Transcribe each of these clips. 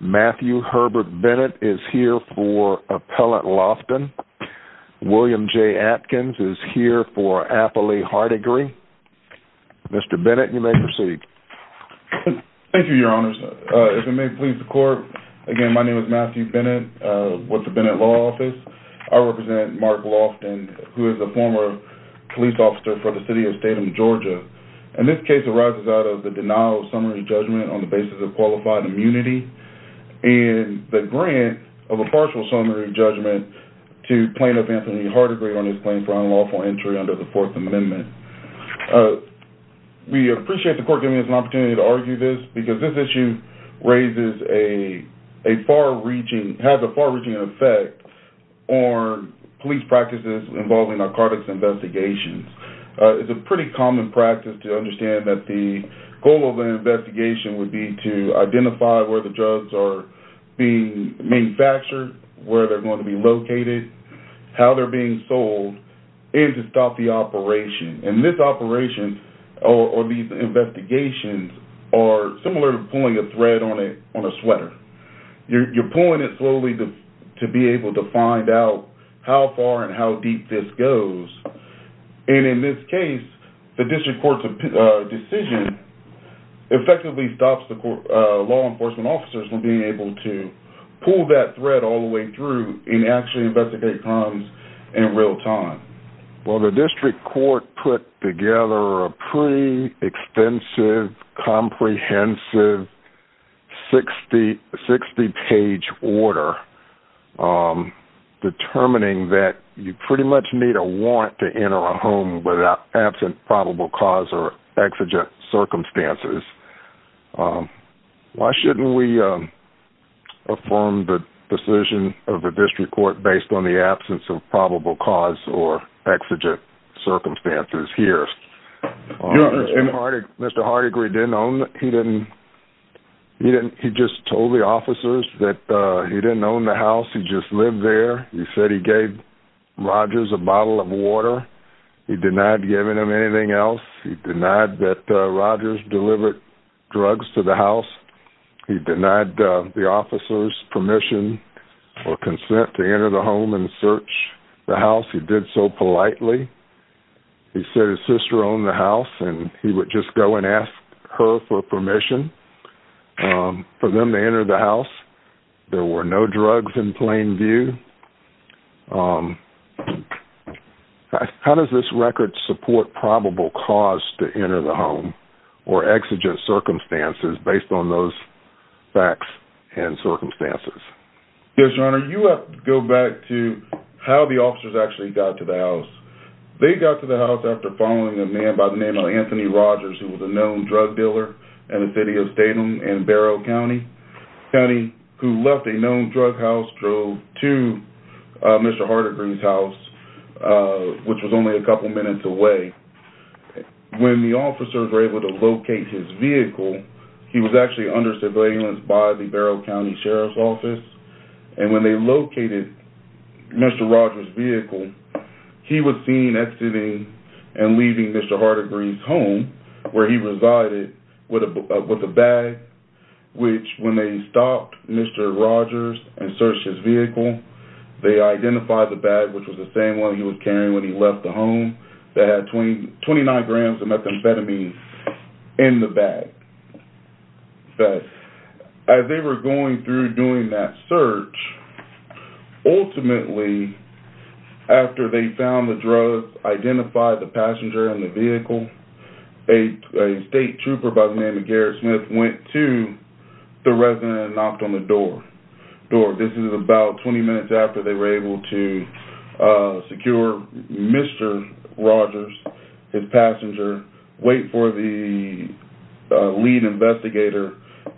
Matthew Herbert Bennett is here for appellate Lofton. William J. Atkins is here for appellate Hardigree. Mr. Bennett, you may proceed. Thank you, your honors. If it may please the court, again my name is Matthew Bennett with the Bennett Law Office. I represent Marc Lofton, who is a former police officer for the city of Statham, Georgia. And this case arises out of the denial of summary judgment on the basis of qualified immunity and the grant of a partial summary judgment to plaintiff Anthony Hardigree on his claim for unlawful entry under the Fourth Amendment. We appreciate the court giving us an opportunity to argue this because this issue raises a far-reaching, has a far-reaching effect on police practices involving narcotics investigations. It's a pretty common practice to understand that the goal of an investigation would be to identify where the drugs are being manufactured, where they're going to be located, how they're being sold, and to stop the operation. And this operation, or these investigations, are similar to pulling a thread on a sweater. You're pulling it slowly to be able to find out how far and how deep this goes. And in this case, the district court's decision effectively stops the law enforcement officers from being able to pull that thread all the way through and actually investigate crimes in real time. Well, the district court put together a pretty extensive, comprehensive, 60-page order determining that you pretty much need a warrant to enter a home without absent probable cause or exigent circumstances. Why shouldn't we affirm the decision of the district court based on the absence of probable cause or exigent circumstances here? Mr. Hardegre didn't own the house. He just told the officers that he didn't own the house. He just lived there. He said he gave Rogers a bottle of water. He denied giving him anything else. He denied that Rogers delivered drugs to the house. He denied the officers permission or consent to enter the home and search the house. He did so politely. He said his sister owned the house, and he would just go and ask her for permission for them to enter the house. There were no drugs in plain view. How does this record support probable cause to enter the home or exigent circumstances based on those facts and circumstances? Yes, Your Honor. You have to go back to how the officers actually got to the house. They got to the house after following a man by the name of Anthony Rogers, who was a known drug dealer in the city of Statham and Barrow County, who left a known drug house, drove to Mr. Hardegre's house, which was only a couple minutes away. When the officers were able to locate his vehicle, he was actually under surveillance by the Barrow County Sheriff's Office. When they located Mr. Rogers' vehicle, he was seen exiting and leaving Mr. Hardegre's home, where he resided, with a bag. When they stopped Mr. Rogers and searched his vehicle, they identified the bag, which was the same one he was carrying when he left the home, that had 29 grams of methamphetamine in the bag. As they were going through doing that search, ultimately, after they found the drugs, identified the passenger in the vehicle, a state trooper by the name of Garrett Smith went to the resident and knocked on the door. This is about 20 minutes after they were able to secure Mr. Rogers, his passenger, wait for the lead investigator,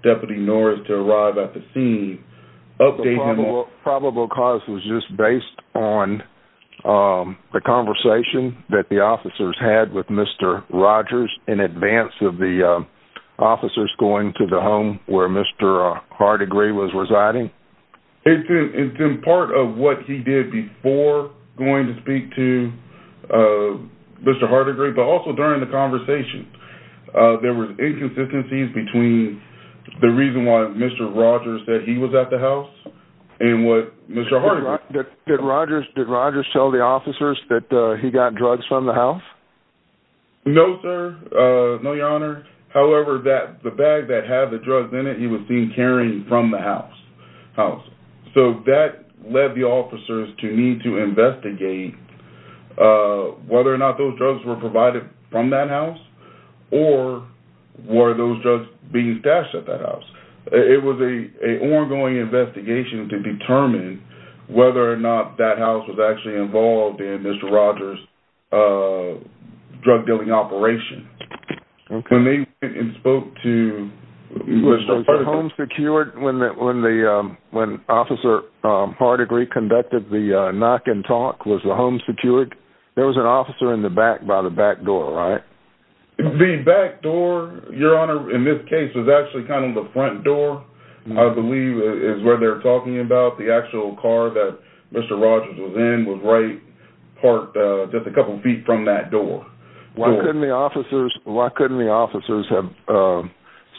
Deputy Norris, to arrive at the scene, update him on... ...the conversation that the officers had with Mr. Rogers in advance of the officers going to the home where Mr. Hardegre was residing? It's in part of what he did before going to speak to Mr. Hardegre, but also during the conversation. There were inconsistencies between the reason why Mr. Rogers said he was at the house and what Mr. Hardegre... Did Rogers tell the officers that he got drugs from the house? No, sir. No, Your Honor. However, the bag that had the drugs in it, he was seen carrying from the house. So that led the officers to need to investigate whether or not those drugs were provided from that house or were those drugs being stashed at that house. It was an ongoing investigation to determine whether or not that house was actually involved in Mr. Rogers' drug dealing operation. Was the home secured when Officer Hardegre conducted the knock and talk? Was the home secured? There was an officer in the back by the back door, right? The back door, Your Honor, in this case was actually kind of the front door, I believe is where they're talking about. The actual car that Mr. Rogers was in was right parked just a couple feet from that door. Why couldn't the officers have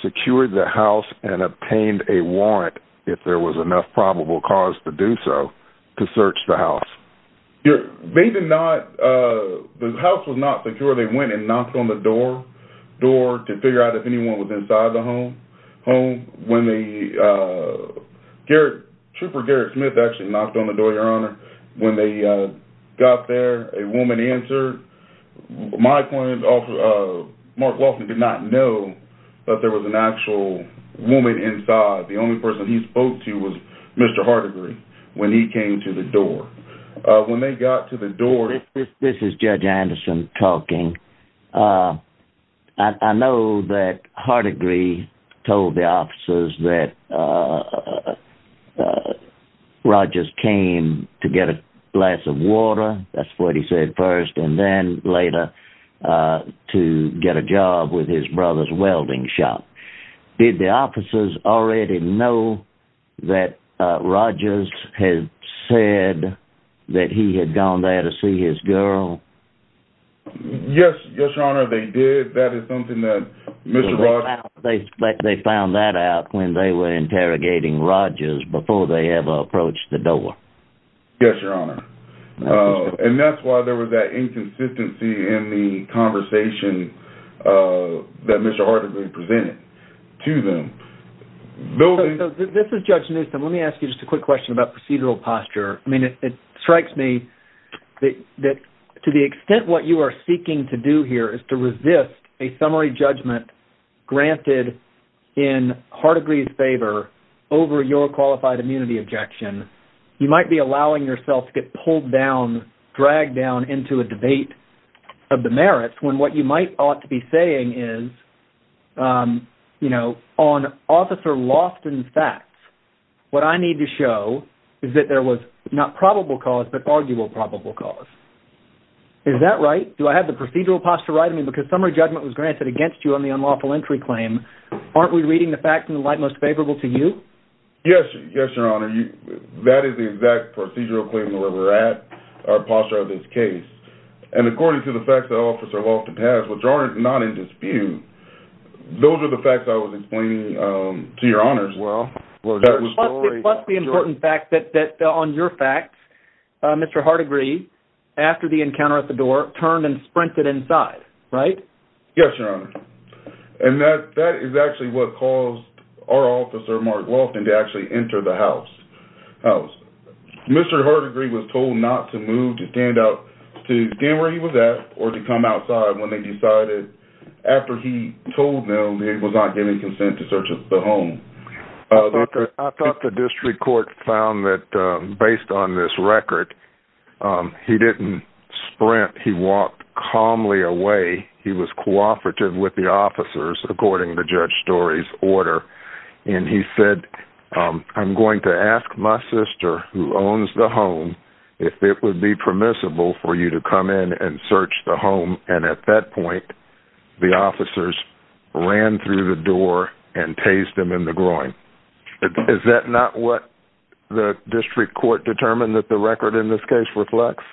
secured the house and obtained a warrant, if there was enough probable cause to do so, to search the house? They did not... The house was not secure. They went and knocked on the door to figure out if anyone was inside the home. Trooper Garrett Smith actually knocked on the door, Your Honor. When they got there, a woman answered. My point is, Mark Waltman did not know that there was an actual woman inside. The only person he spoke to was Mr. Hardegre when he came to the door. When they got to the door... This is Judge Anderson talking. I know that Hardegre told the officers that Rogers came to get a glass of water, that's what he said first, and then later to get a job with his brother's welding shop. Did the officers already know that Rogers had said that he had gone there to see his girl? Yes, Your Honor, they did. That is something that Mr. Rogers... They found that out when they were interrogating Rogers before they ever approached the door. Yes, Your Honor. And that's why there was that inconsistency in the conversation that Mr. Hardegre presented to them. This is Judge Newsom. Let me ask you just a quick question about procedural posture. I mean, it strikes me that to the extent what you are seeking to do here is to resist a summary judgment granted in Hardegre's favor over your qualified immunity objection, you might be allowing yourself to get pulled down, dragged down into a debate of the merits when what you might ought to be saying is, you know, on Officer Loftin's facts, what I need to show is that there was not probable cause but arguable probable cause. Is that right? Do I have the procedural posture right? I mean, because summary judgment was granted against you on the unlawful entry claim, aren't we reading the facts in the light most favorable to you? Yes, Your Honor. That is the exact procedural claim where we're at, our posture of this case. And according to the facts that Officer Loftin has, which are not in dispute, those are the facts I was explaining to Your Honors. Well, plus the important fact that on your facts, Mr. Hardegre, after the encounter at the door, turned and sprinted inside, right? Yes, Your Honor. And that is actually what caused our officer, Mark Loftin, to actually enter the house. Mr. Hardegre was told not to move, to stand up, to stand where he was at, or to come outside when they decided, after he told them he was not giving consent to search the home. I thought the district court found that, based on this record, he didn't sprint. He walked calmly away. He was cooperative with the officers, according to Judge Story's order. And he said, I'm going to ask my sister, who owns the home, if it would be permissible for you to come in and search the home. And at that point, the officers ran through the door and tased him in the groin. Is that not what the district court determined that the record in this case reflects?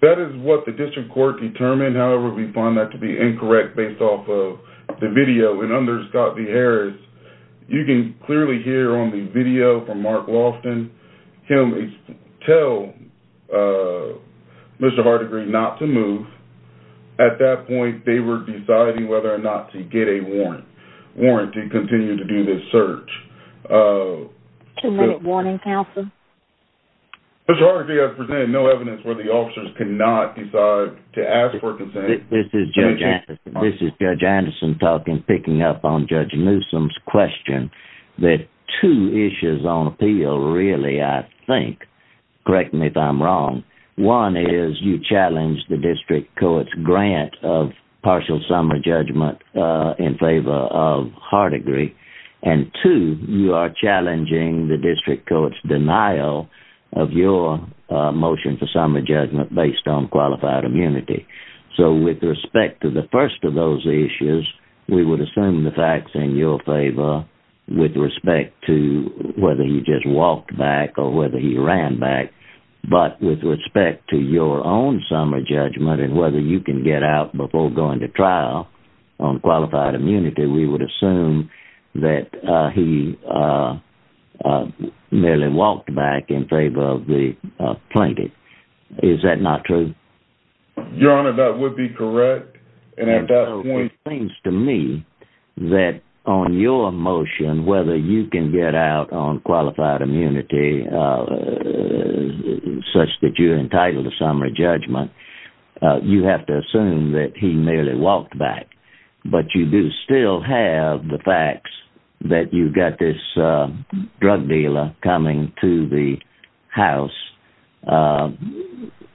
That is what the district court determined. However, we find that to be incorrect, based off of the video. And under Scott v. Harris, you can clearly hear on the video from Mark Loftin, him tell Mr. Hardegre not to move. At that point, they were deciding whether or not to get a warrant to continue to do this search. Two-minute warning, counsel. Mr. Hardegre, I presented no evidence where the officers could not decide to ask for consent. This is Judge Anderson. This is Judge Anderson talking, picking up on Judge Newsom's question. There are two issues on appeal, really, I think. Correct me if I'm wrong. One is, you challenged the district court's grant of partial summary judgment in favor of Hardegre. And two, you are challenging the district court's denial of your motion for summary judgment based on qualified immunity. So with respect to the first of those issues, we would assume the fact's in your favor with respect to whether he just walked back or whether he ran back. But with respect to your own summary judgment and whether you can get out before going to trial on qualified immunity, we would assume that he merely walked back in favor of the plaintiff. Is that not true? Your Honor, that would be correct. It seems to me that on your motion, whether you can get out on qualified immunity such that you're entitled to summary judgment, you have to assume that he merely walked back. But you do still have the facts that you've got this drug dealer coming to the house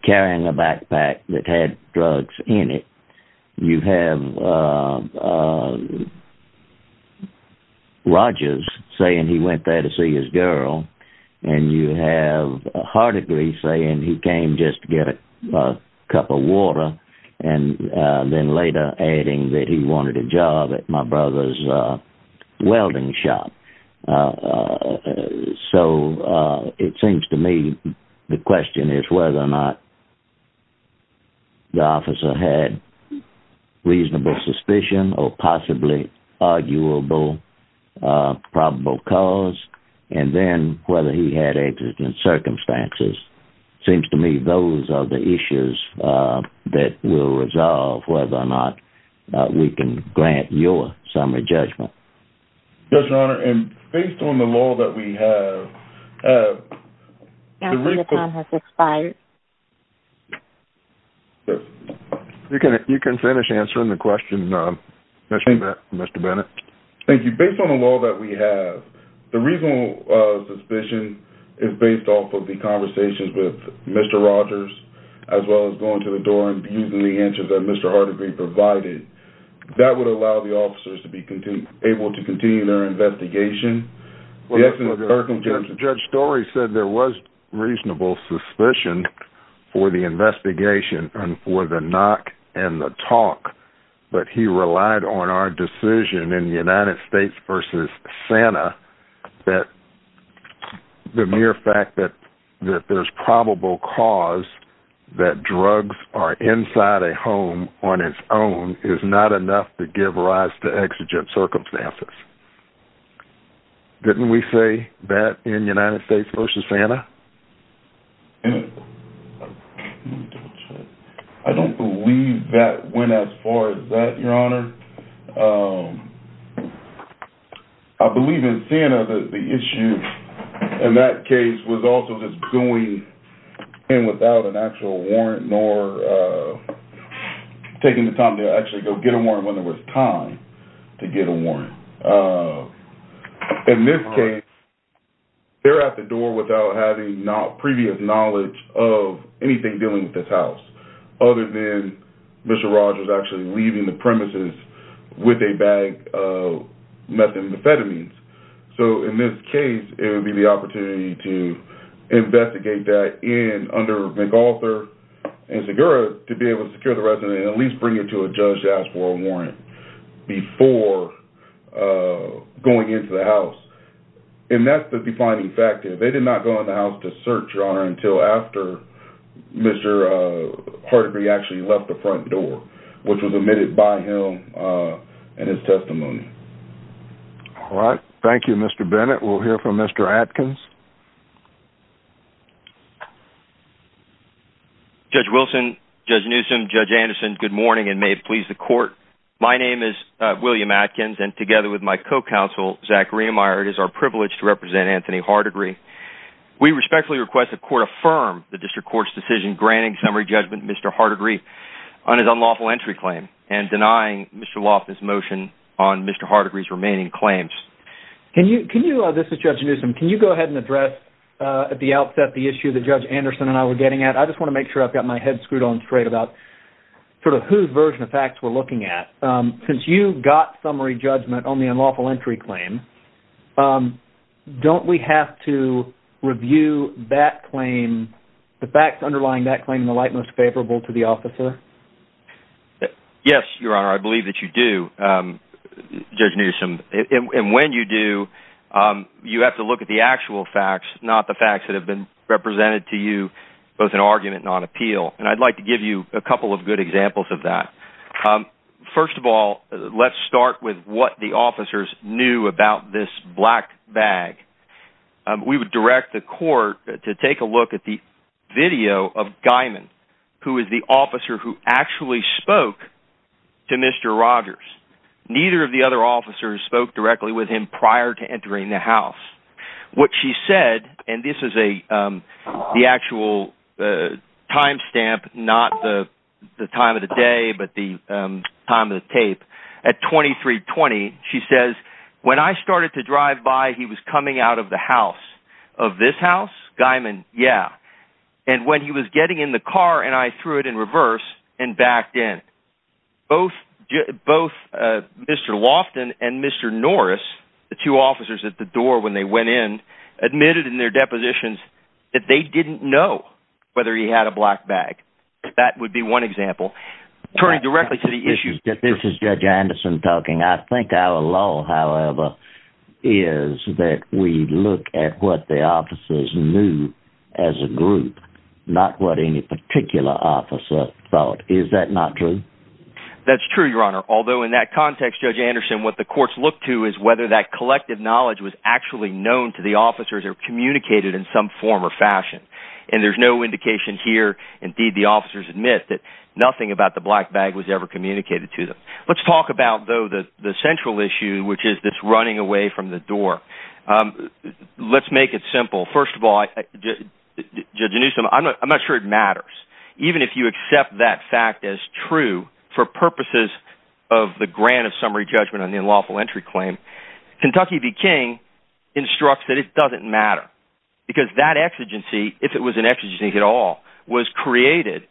carrying a backpack that had drugs in it. You have Rogers saying he went there to see his girl. And you have Hardegre saying he came just to get a cup of water and then later adding that he wanted a job at my brother's welding shop. So it seems to me the question is whether or not the officer had reasonable suspicion or possibly arguable probable cause, and then whether he had antecedent circumstances. It seems to me those are the issues that will resolve whether or not we can grant your summary judgment. Yes, Your Honor, and based on the law that we have... Your time has expired. You can finish answering the question, Mr. Bennett. Thank you. Based on the law that we have, the reasonable suspicion is based off of the conversations with Mr. Rogers, as well as going to the door and using the answers that Mr. Hardegre provided. That would allow the officers to be able to continue their investigation. Judge Story said there was reasonable suspicion for the investigation and for the knock and the talk. But he relied on our decision in United States v. Santa that the mere fact that there's probable cause that drugs are inside a home on its own is not enough to give rise to exigent circumstances. Didn't we say that in United States v. Santa? I don't believe that went as far as that, Your Honor. I believe in Santa the issue in that case was also just going in without an actual warrant nor taking the time to actually go get a warrant when there was time to get a warrant. In this case, they're at the door without having previous knowledge of anything dealing with this house other than Mr. Rogers actually leaving the premises with a bag of methamphetamines. In this case, it would be the opportunity to investigate that under McArthur and Segura to be able to secure the residence and at least bring it to a judge to ask for a warrant before going into the house. And that's the defining factor. They did not go in the house to search, Your Honor, until after Mr. Hardegre actually left the front door, which was admitted by him and his testimony. Thank you, Mr. Bennett. We'll hear from Mr. Atkins. Judge Wilson, Judge Newsom, Judge Anderson, good morning and may it please the court. My name is William Atkins and together with my co-counsel, Zachary Meyer, it is our privilege to represent Anthony Hardegre. We respectfully request the court affirm the district court's decision granting summary judgment to Mr. Hardegre on his unlawful entry claim and denying Mr. Loftus' motion on Mr. Hardegre's remaining claims. This is Judge Newsom. Can you go ahead and address at the outset the issue that Judge Anderson and I were getting at? I just want to make sure I've got my head screwed on straight about sort of whose version of facts we're looking at. Since you got summary judgment on the unlawful entry claim, don't we have to review that claim, the facts underlying that claim, in the light most favorable to the officer? Yes, Your Honor. I believe that you do, Judge Newsom. And when you do, you have to look at the actual facts, not the facts that have been represented to you, both in argument and on appeal. And I'd like to give you a couple of good examples of that. First of all, let's start with what the officers knew about this black bag. We would direct the court to take a look at the video of Guymon, who is the officer who actually spoke to Mr. Rogers. Neither of the other officers spoke directly with him prior to entering the house. What she said, and this is the actual time stamp, not the time of the day, but the time of the tape. At 2320, she says, when I started to drive by, he was coming out of the house. Of this house? Guymon? Yeah. And when he was getting in the car and I threw it in reverse and backed in. Both Mr. Loftin and Mr. Norris, the two officers at the door when they went in, admitted in their depositions that they didn't know whether he had a black bag. That would be one example. Turning directly to the issue. This is Judge Anderson talking. I think our law, however, is that we look at what the officers knew as a group. Not what any particular officer thought. Is that not true? That's true, Your Honor. Although in that context, Judge Anderson, what the courts look to is whether that collective knowledge was actually known to the officers or communicated in some form or fashion. And there's no indication here. Indeed, the officers admit that nothing about the black bag was ever communicated to them. Let's talk about, though, the central issue, which is this running away from the door. Let's make it simple. First of all, Judge Anderson, I'm not sure it matters. Even if you accept that fact as true for purposes of the grant of summary judgment on the unlawful entry claim, Kentucky v. King instructs that it doesn't matter. Because that exigency, if it was an exigency at all, was created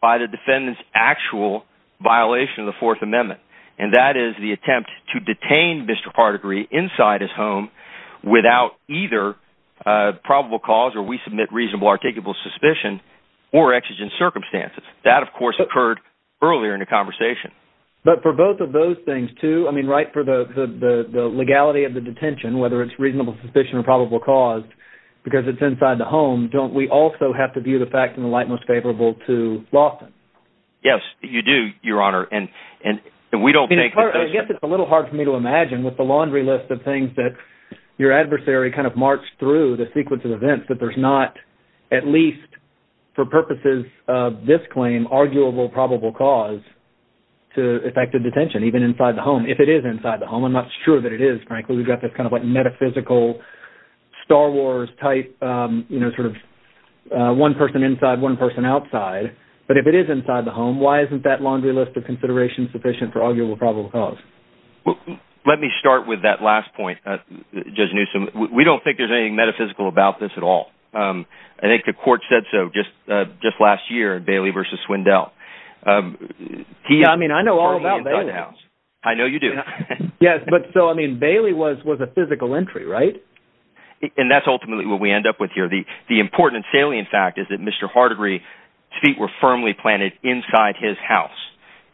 by the defendant's actual violation of the Fourth Amendment. And that is the attempt to detain Mr. Hardegree inside his home without either probable cause, or we submit reasonable articulable suspicion, or exigent circumstances. That, of course, occurred earlier in the conversation. But for both of those things, too, I mean, right for the legality of the detention, whether it's reasonable suspicion or probable cause, because it's inside the home, don't we also have to view the fact in the light most favorable to Lawson? Yes, you do, Your Honor. And we don't think that those... I guess it's a little hard for me to imagine with the laundry list of things that your adversary kind of marched through the sequence of events that there's not, at least for purposes of this claim, arguable probable cause. To effective detention, even inside the home. If it is inside the home, I'm not sure that it is, frankly. We've got this kind of like metaphysical Star Wars type, you know, sort of one person inside, one person outside. But if it is inside the home, why isn't that laundry list of considerations sufficient for arguable probable cause? Let me start with that last point, Judge Newsom. We don't think there's anything metaphysical about this at all. I think the court said so just last year, Bailey v. Swindell. Yeah, I mean, I know all about Bailey. I know you do. Yes, but so, I mean, Bailey was a physical entry, right? And that's ultimately what we end up with here. The important salient fact is that Mr. Hardery's feet were firmly planted inside his house.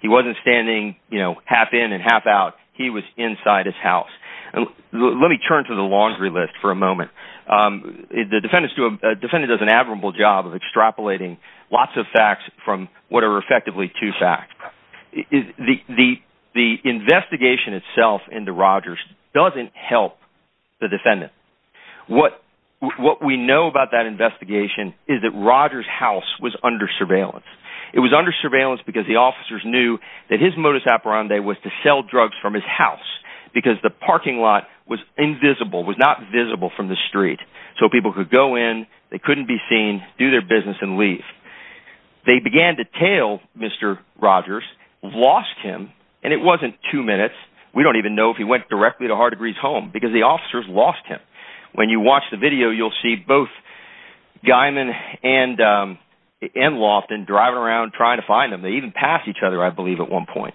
He wasn't standing, you know, half in and half out. He was inside his house. Let me turn to the laundry list for a moment. The defendant does an admirable job of extrapolating lots of facts from what are effectively two facts. The investigation itself into Rogers doesn't help the defendant. What we know about that investigation is that Rogers' house was under surveillance. It was under surveillance because the officers knew that his modus operandi was to sell drugs from his house. Because the parking lot was invisible, was not visible from the street. So people could go in, they couldn't be seen, do their business and leave. They began to tail Mr. Rogers, lost him, and it wasn't two minutes. We don't even know if he went directly to Hardery's home because the officers lost him. When you watch the video, you'll see both Guyman and Loftin driving around trying to find him. They even passed each other, I believe, at one point.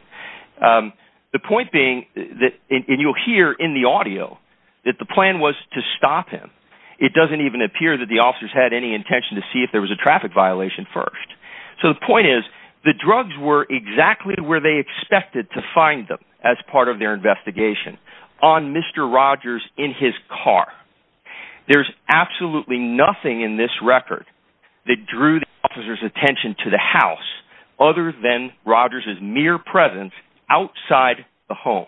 The point being, and you'll hear in the audio, that the plan was to stop him. It doesn't even appear that the officers had any intention to see if there was a traffic violation first. So the point is, the drugs were exactly where they expected to find them as part of their investigation. On Mr. Rogers in his car. There's absolutely nothing in this record that drew the officers' attention to the house. Other than Rogers' mere presence outside the home.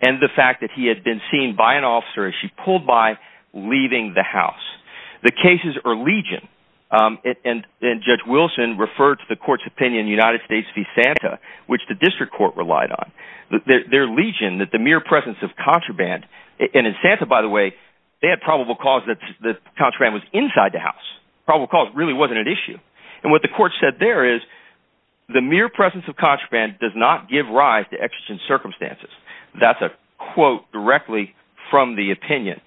And the fact that he had been seen by an officer as she pulled by, leaving the house. The cases are legion. And Judge Wilson referred to the court's opinion in United States v. Santa, which the district court relied on. Their legion, that the mere presence of contraband. And in Santa, by the way, they had probable cause that the contraband was inside the house. Probable cause really wasn't an issue. And what the court said there is, the mere presence of contraband does not give rise to exigent circumstances. That's a quote directly from the opinion.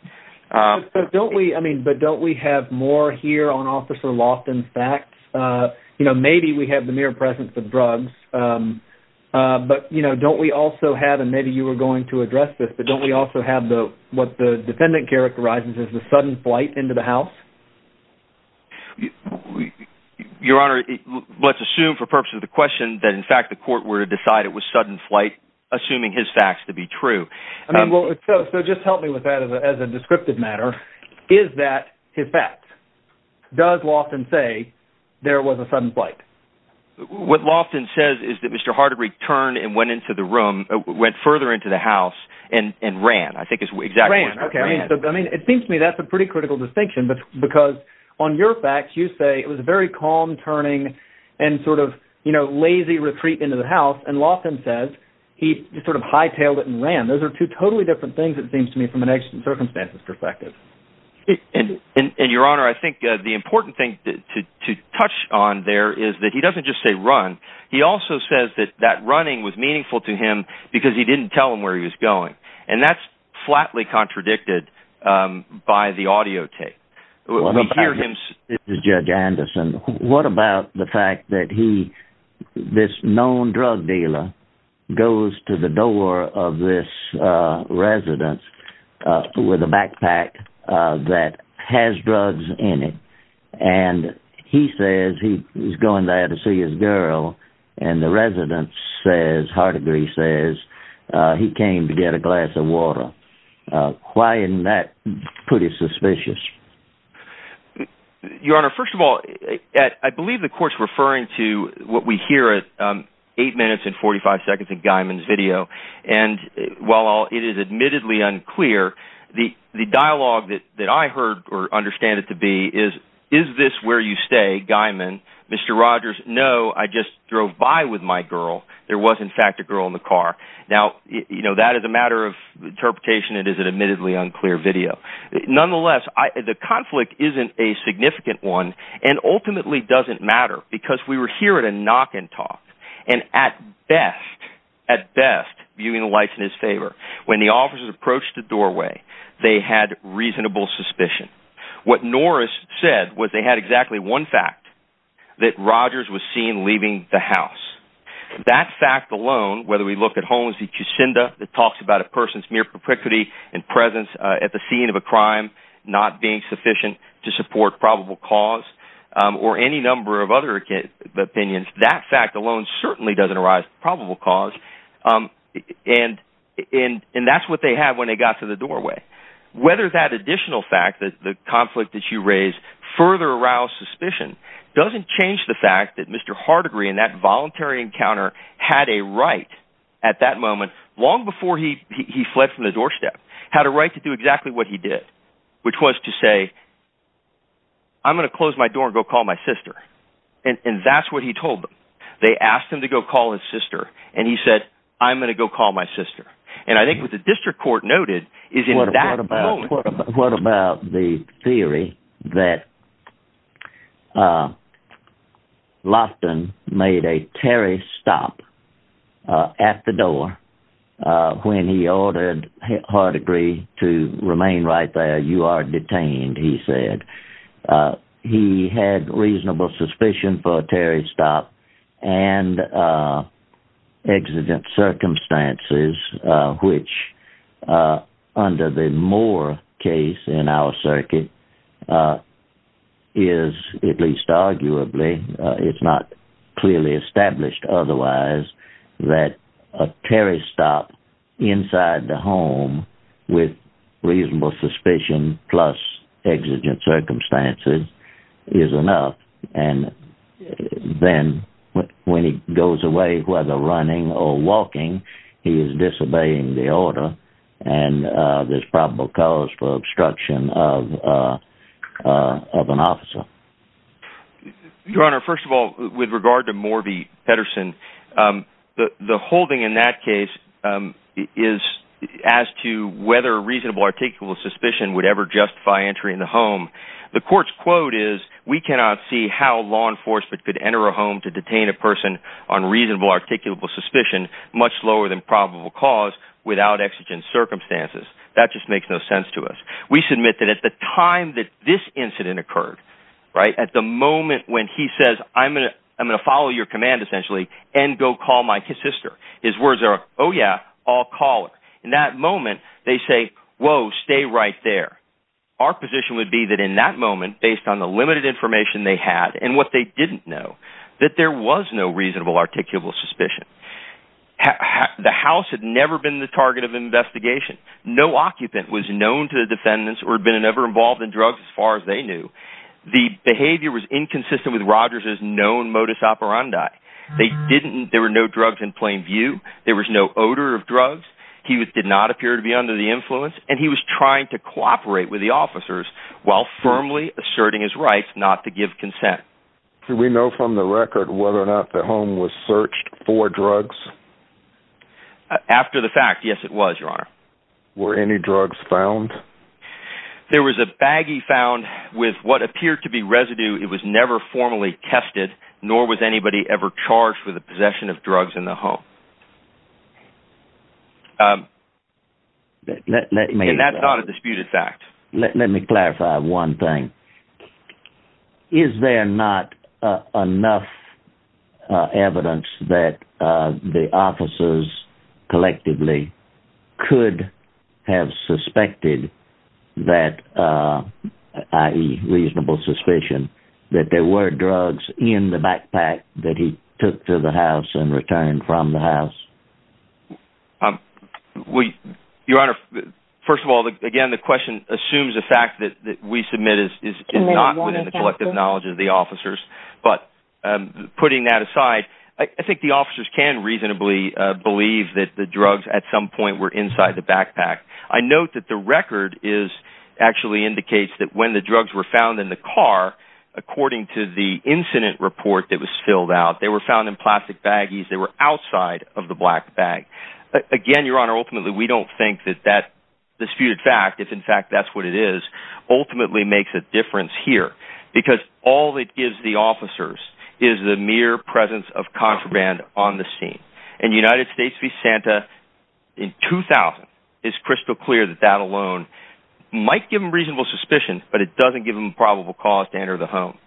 But don't we have more here on Officer Loftin's facts? Maybe we have the mere presence of drugs. But don't we also have, and maybe you were going to address this. But don't we also have what the defendant characterizes as the sudden flight into the house? Your Honor, let's assume for purposes of the question that in fact the court were to decide it was sudden flight. Assuming his facts to be true. So just help me with that as a descriptive matter. Is that his facts? Does Loftin say there was a sudden flight? What Loftin says is that Mr. Hardigre turned and went into the room. Went further into the house and ran. Ran. It seems to me that's a pretty critical distinction. Because on your facts you say it was a very calm turning and sort of lazy retreat into the house. And Loftin says he sort of hightailed it and ran. Those are two totally different things it seems to me from an exigent circumstances perspective. And Your Honor, I think the important thing to touch on there is that he doesn't just say run. He also says that that running was meaningful to him because he didn't tell him where he was going. And that's flatly contradicted by the audio tape. We hear him... Judge Anderson, what about the fact that he, this known drug dealer, goes to the door of this residence with a backpack. That has drugs in it. And he says he's going there to see his girl. And the residence says, Hardigre says, he came to get a glass of water. Why isn't that pretty suspicious? Your Honor, first of all, I believe the court's referring to what we hear at 8 minutes and 45 seconds in Guymon's video. And while it is admittedly unclear, the dialogue that I heard or understand it to be is, Is this where you stay, Guymon? Mr. Rogers, no, I just drove by with my girl. There was in fact a girl in the car. Now, that is a matter of interpretation. It is an admittedly unclear video. Nonetheless, the conflict isn't a significant one. And ultimately doesn't matter because we were hearing a knock and talk. And at best, at best, viewing the light in his favor, when the officers approached the doorway, they had reasonable suspicion. What Norris said was they had exactly one fact. That Rogers was seen leaving the house. That fact alone, whether we look at Holmes v. Kucinda, that talks about a person's mere propriety and presence at the scene of a crime, Not being sufficient to support probable cause, or any number of other opinions, That fact alone certainly doesn't arise probable cause. And that's what they had when they got to the doorway. Whether that additional fact, the conflict that you raised, further aroused suspicion, Doesn't change the fact that Mr. Hardegree, in that voluntary encounter, had a right at that moment, Long before he fled from the doorstep, had a right to do exactly what he did. Which was to say, I'm going to close my door and go call my sister. And that's what he told them. They asked him to go call his sister, and he said, I'm going to go call my sister. And I think what the district court noted, is in that moment... What about the theory that Loftin made a terrorist stop at the door, When he ordered Hardegree to remain right there, you are detained, he said. He had reasonable suspicion for a terrorist stop, and exigent circumstances, Which under the Moore case in our circuit, is at least arguably, It's not clearly established otherwise, that a terrorist stop inside the home, With reasonable suspicion, plus exigent circumstances, is enough. And then, when he goes away, whether running or walking, he is disobeying the order, And there's probable cause for obstruction of an officer. Your Honor, first of all, with regard to Morby Pedersen, The holding in that case is as to whether reasonable or articulable suspicion Would ever justify entering the home. The court's quote is, we cannot see how law enforcement could enter a home To detain a person on reasonable or articulable suspicion, Much lower than probable cause, without exigent circumstances. That just makes no sense to us. We submit that at the time that this incident occurred, At the moment when he says, I'm going to follow your command, essentially, And go call my sister, his words are, oh yeah, I'll call her. In that moment, they say, whoa, stay right there. Our position would be that in that moment, based on the limited information they had, And what they didn't know, that there was no reasonable or articulable suspicion. The house had never been the target of investigation. No occupant was known to the defendants, or had been ever involved in drugs, As far as they knew. The behavior was inconsistent with Rogers' known modus operandi. There were no drugs in plain view, there was no odor of drugs, He did not appear to be under the influence, And he was trying to cooperate with the officers, While firmly asserting his rights not to give consent. Do we know from the record whether or not the home was searched for drugs? After the fact, yes it was, your honor. Were any drugs found? There was a baggie found with what appeared to be residue, It was never formally tested, Nor was anybody ever charged with the possession of drugs in the home. And that's not a disputed fact. Let me clarify one thing. Is there not enough evidence that the officers, collectively, Could have suspected that, i.e. reasonable suspicion, That there were drugs in the backpack that he took to the house, And returned from the house? Your honor, first of all, again, the question assumes the fact that we submit Is not within the collective knowledge of the officers, But putting that aside, I think the officers can reasonably believe That the drugs at some point were inside the backpack. I note that the record actually indicates that when the drugs were found in the car, According to the incident report that was filled out, They were found in plastic baggies, they were outside of the black bag. Again, your honor, ultimately we don't think that that disputed fact, If in fact that's what it is, ultimately makes a difference here. Because all it gives the officers is the mere presence of contraband on the scene. In the United States v. Santa, in 2000, It's crystal clear that that alone might give them reasonable suspicion, But it doesn't give them a probable cause to enter the home.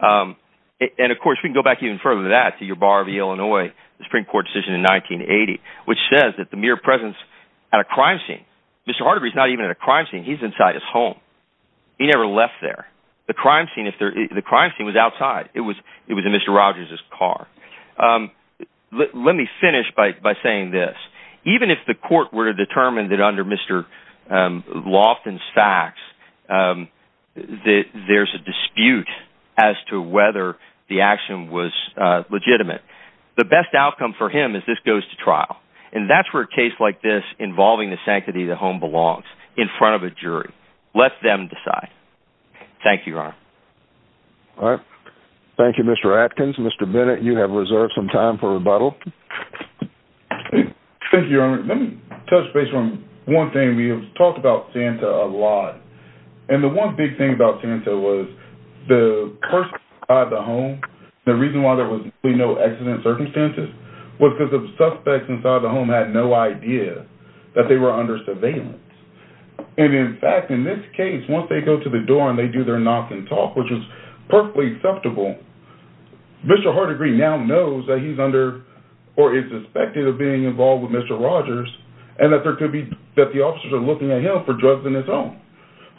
And of course, we can go back even further than that to your bar of Illinois, The Supreme Court decision in 1980, which says that the mere presence at a crime scene, Mr. Harderby's not even at a crime scene, he's inside his home. He never left there. The crime scene was outside. It was in Mr. Rogers' car. Let me finish by saying this, Even if the court were to determine that under Mr. Loftin's facts, There's a dispute as to whether the action was legitimate, The best outcome for him is this goes to trial. And that's where a case like this involving the sanctity of the home belongs, In front of a jury. Let them decide. Thank you, your honor. Thank you, Mr. Atkins. Mr. Bennett, you have reserved some time for rebuttal. Thank you, your honor. Let me touch base on one thing. We have talked about Santa a lot. And the one big thing about Santa was the person inside the home, The reason why there was no accident circumstances, Was because the suspects inside the home had no idea that they were under surveillance. And in fact, in this case, once they go to the door, And they do their knock and talk, which is perfectly acceptable, Mr. Hardigree now knows that he's under, Or is suspected of being involved with Mr. Rogers, And that there could be, that the officers are looking at him for drugs in his home.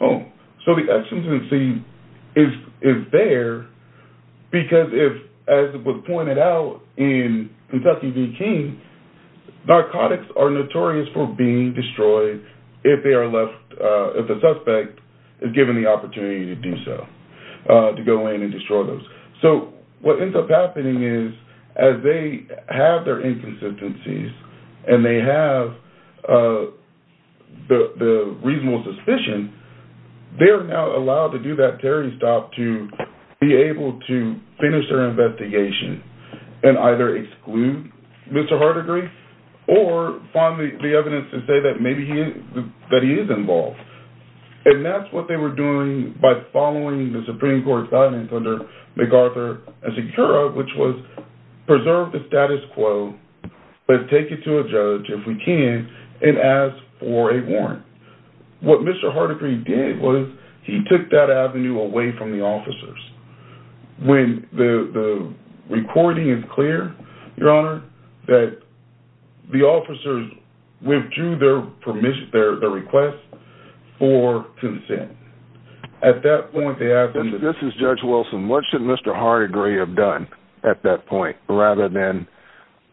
So the exigency is there, Because if, as was pointed out in Kentucky v. King, Narcotics are notorious for being destroyed, If the suspect is given the opportunity to do so, To go in and destroy those. So what ends up happening is, As they have their inconsistencies, And they have the reasonable suspicion, They are now allowed to do that terrorist op, To be able to finish their investigation, And either exclude Mr. Hardigree, Or find the evidence to say that maybe he is involved. And that's what they were doing, By following the Supreme Court's guidance, Under MacArthur and Secura, Which was, preserve the status quo, But take it to a judge if we can, And ask for a warrant. What Mr. Hardigree did was, He took that avenue away from the officers. When the recording is clear, The officers withdrew their request for consent. At that point, This is Judge Wilson, What should Mr. Hardigree have done at that point, Rather than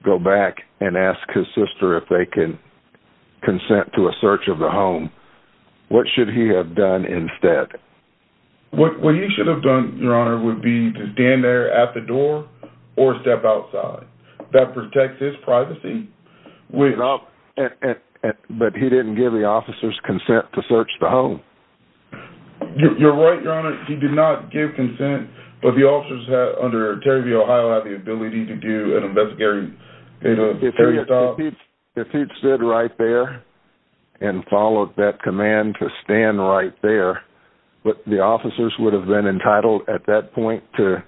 go back and ask his sister, If they can consent to a search of the home? What should he have done instead? What he should have done, Would be to stand there at the door, Or step outside. That protects his privacy. But he didn't give the officers consent to search the home. You're right, your honor. He did not give consent, But the officers under Terry V. Ohio, Had the ability to do an investigation. If he'd stood right there, And followed that command to stand right there, The officers would have been entitled, At that point, To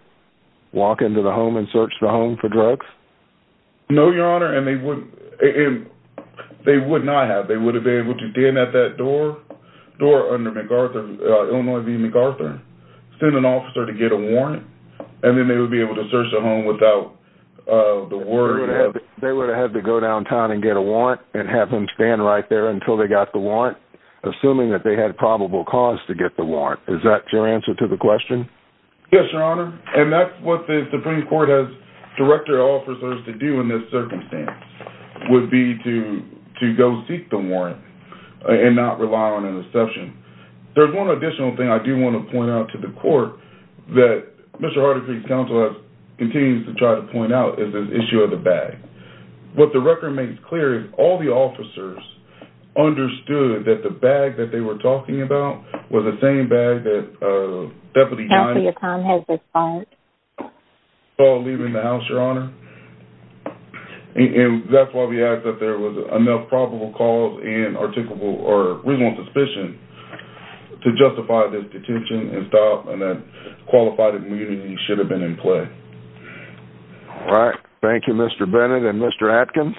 walk into the home, And search the home for drugs? No, your honor. They would not have. They would have been able to stand at that door, Under Illinois V. MacArthur, Send an officer to get a warrant, And then they would be able to search the home without the warrant. They would have had to go downtown and get a warrant, And have them stand right there until they got the warrant, Assuming that they had probable cause to get the warrant. Is that your answer to the question? Yes, your honor. And that's what the Supreme Court has directed officers to do in this circumstance, Would be to go seek the warrant, And not rely on an exception. There's one additional thing I do want to point out to the court, That Mr. Harder Creek's counsel has continued to try to point out, Is this issue of the bag. What the record makes clear is, All the officers understood that the bag that they were talking about, Was the same bag that Deputy Diney, Counselor, your time has expired. Called leaving the house, your honor. And that's why we ask that there was enough probable cause, And reasonable suspicion, To justify this detention and stop, And that qualified immunity should have been in play. All right, thank you Mr. Bennett and Mr. Atkins.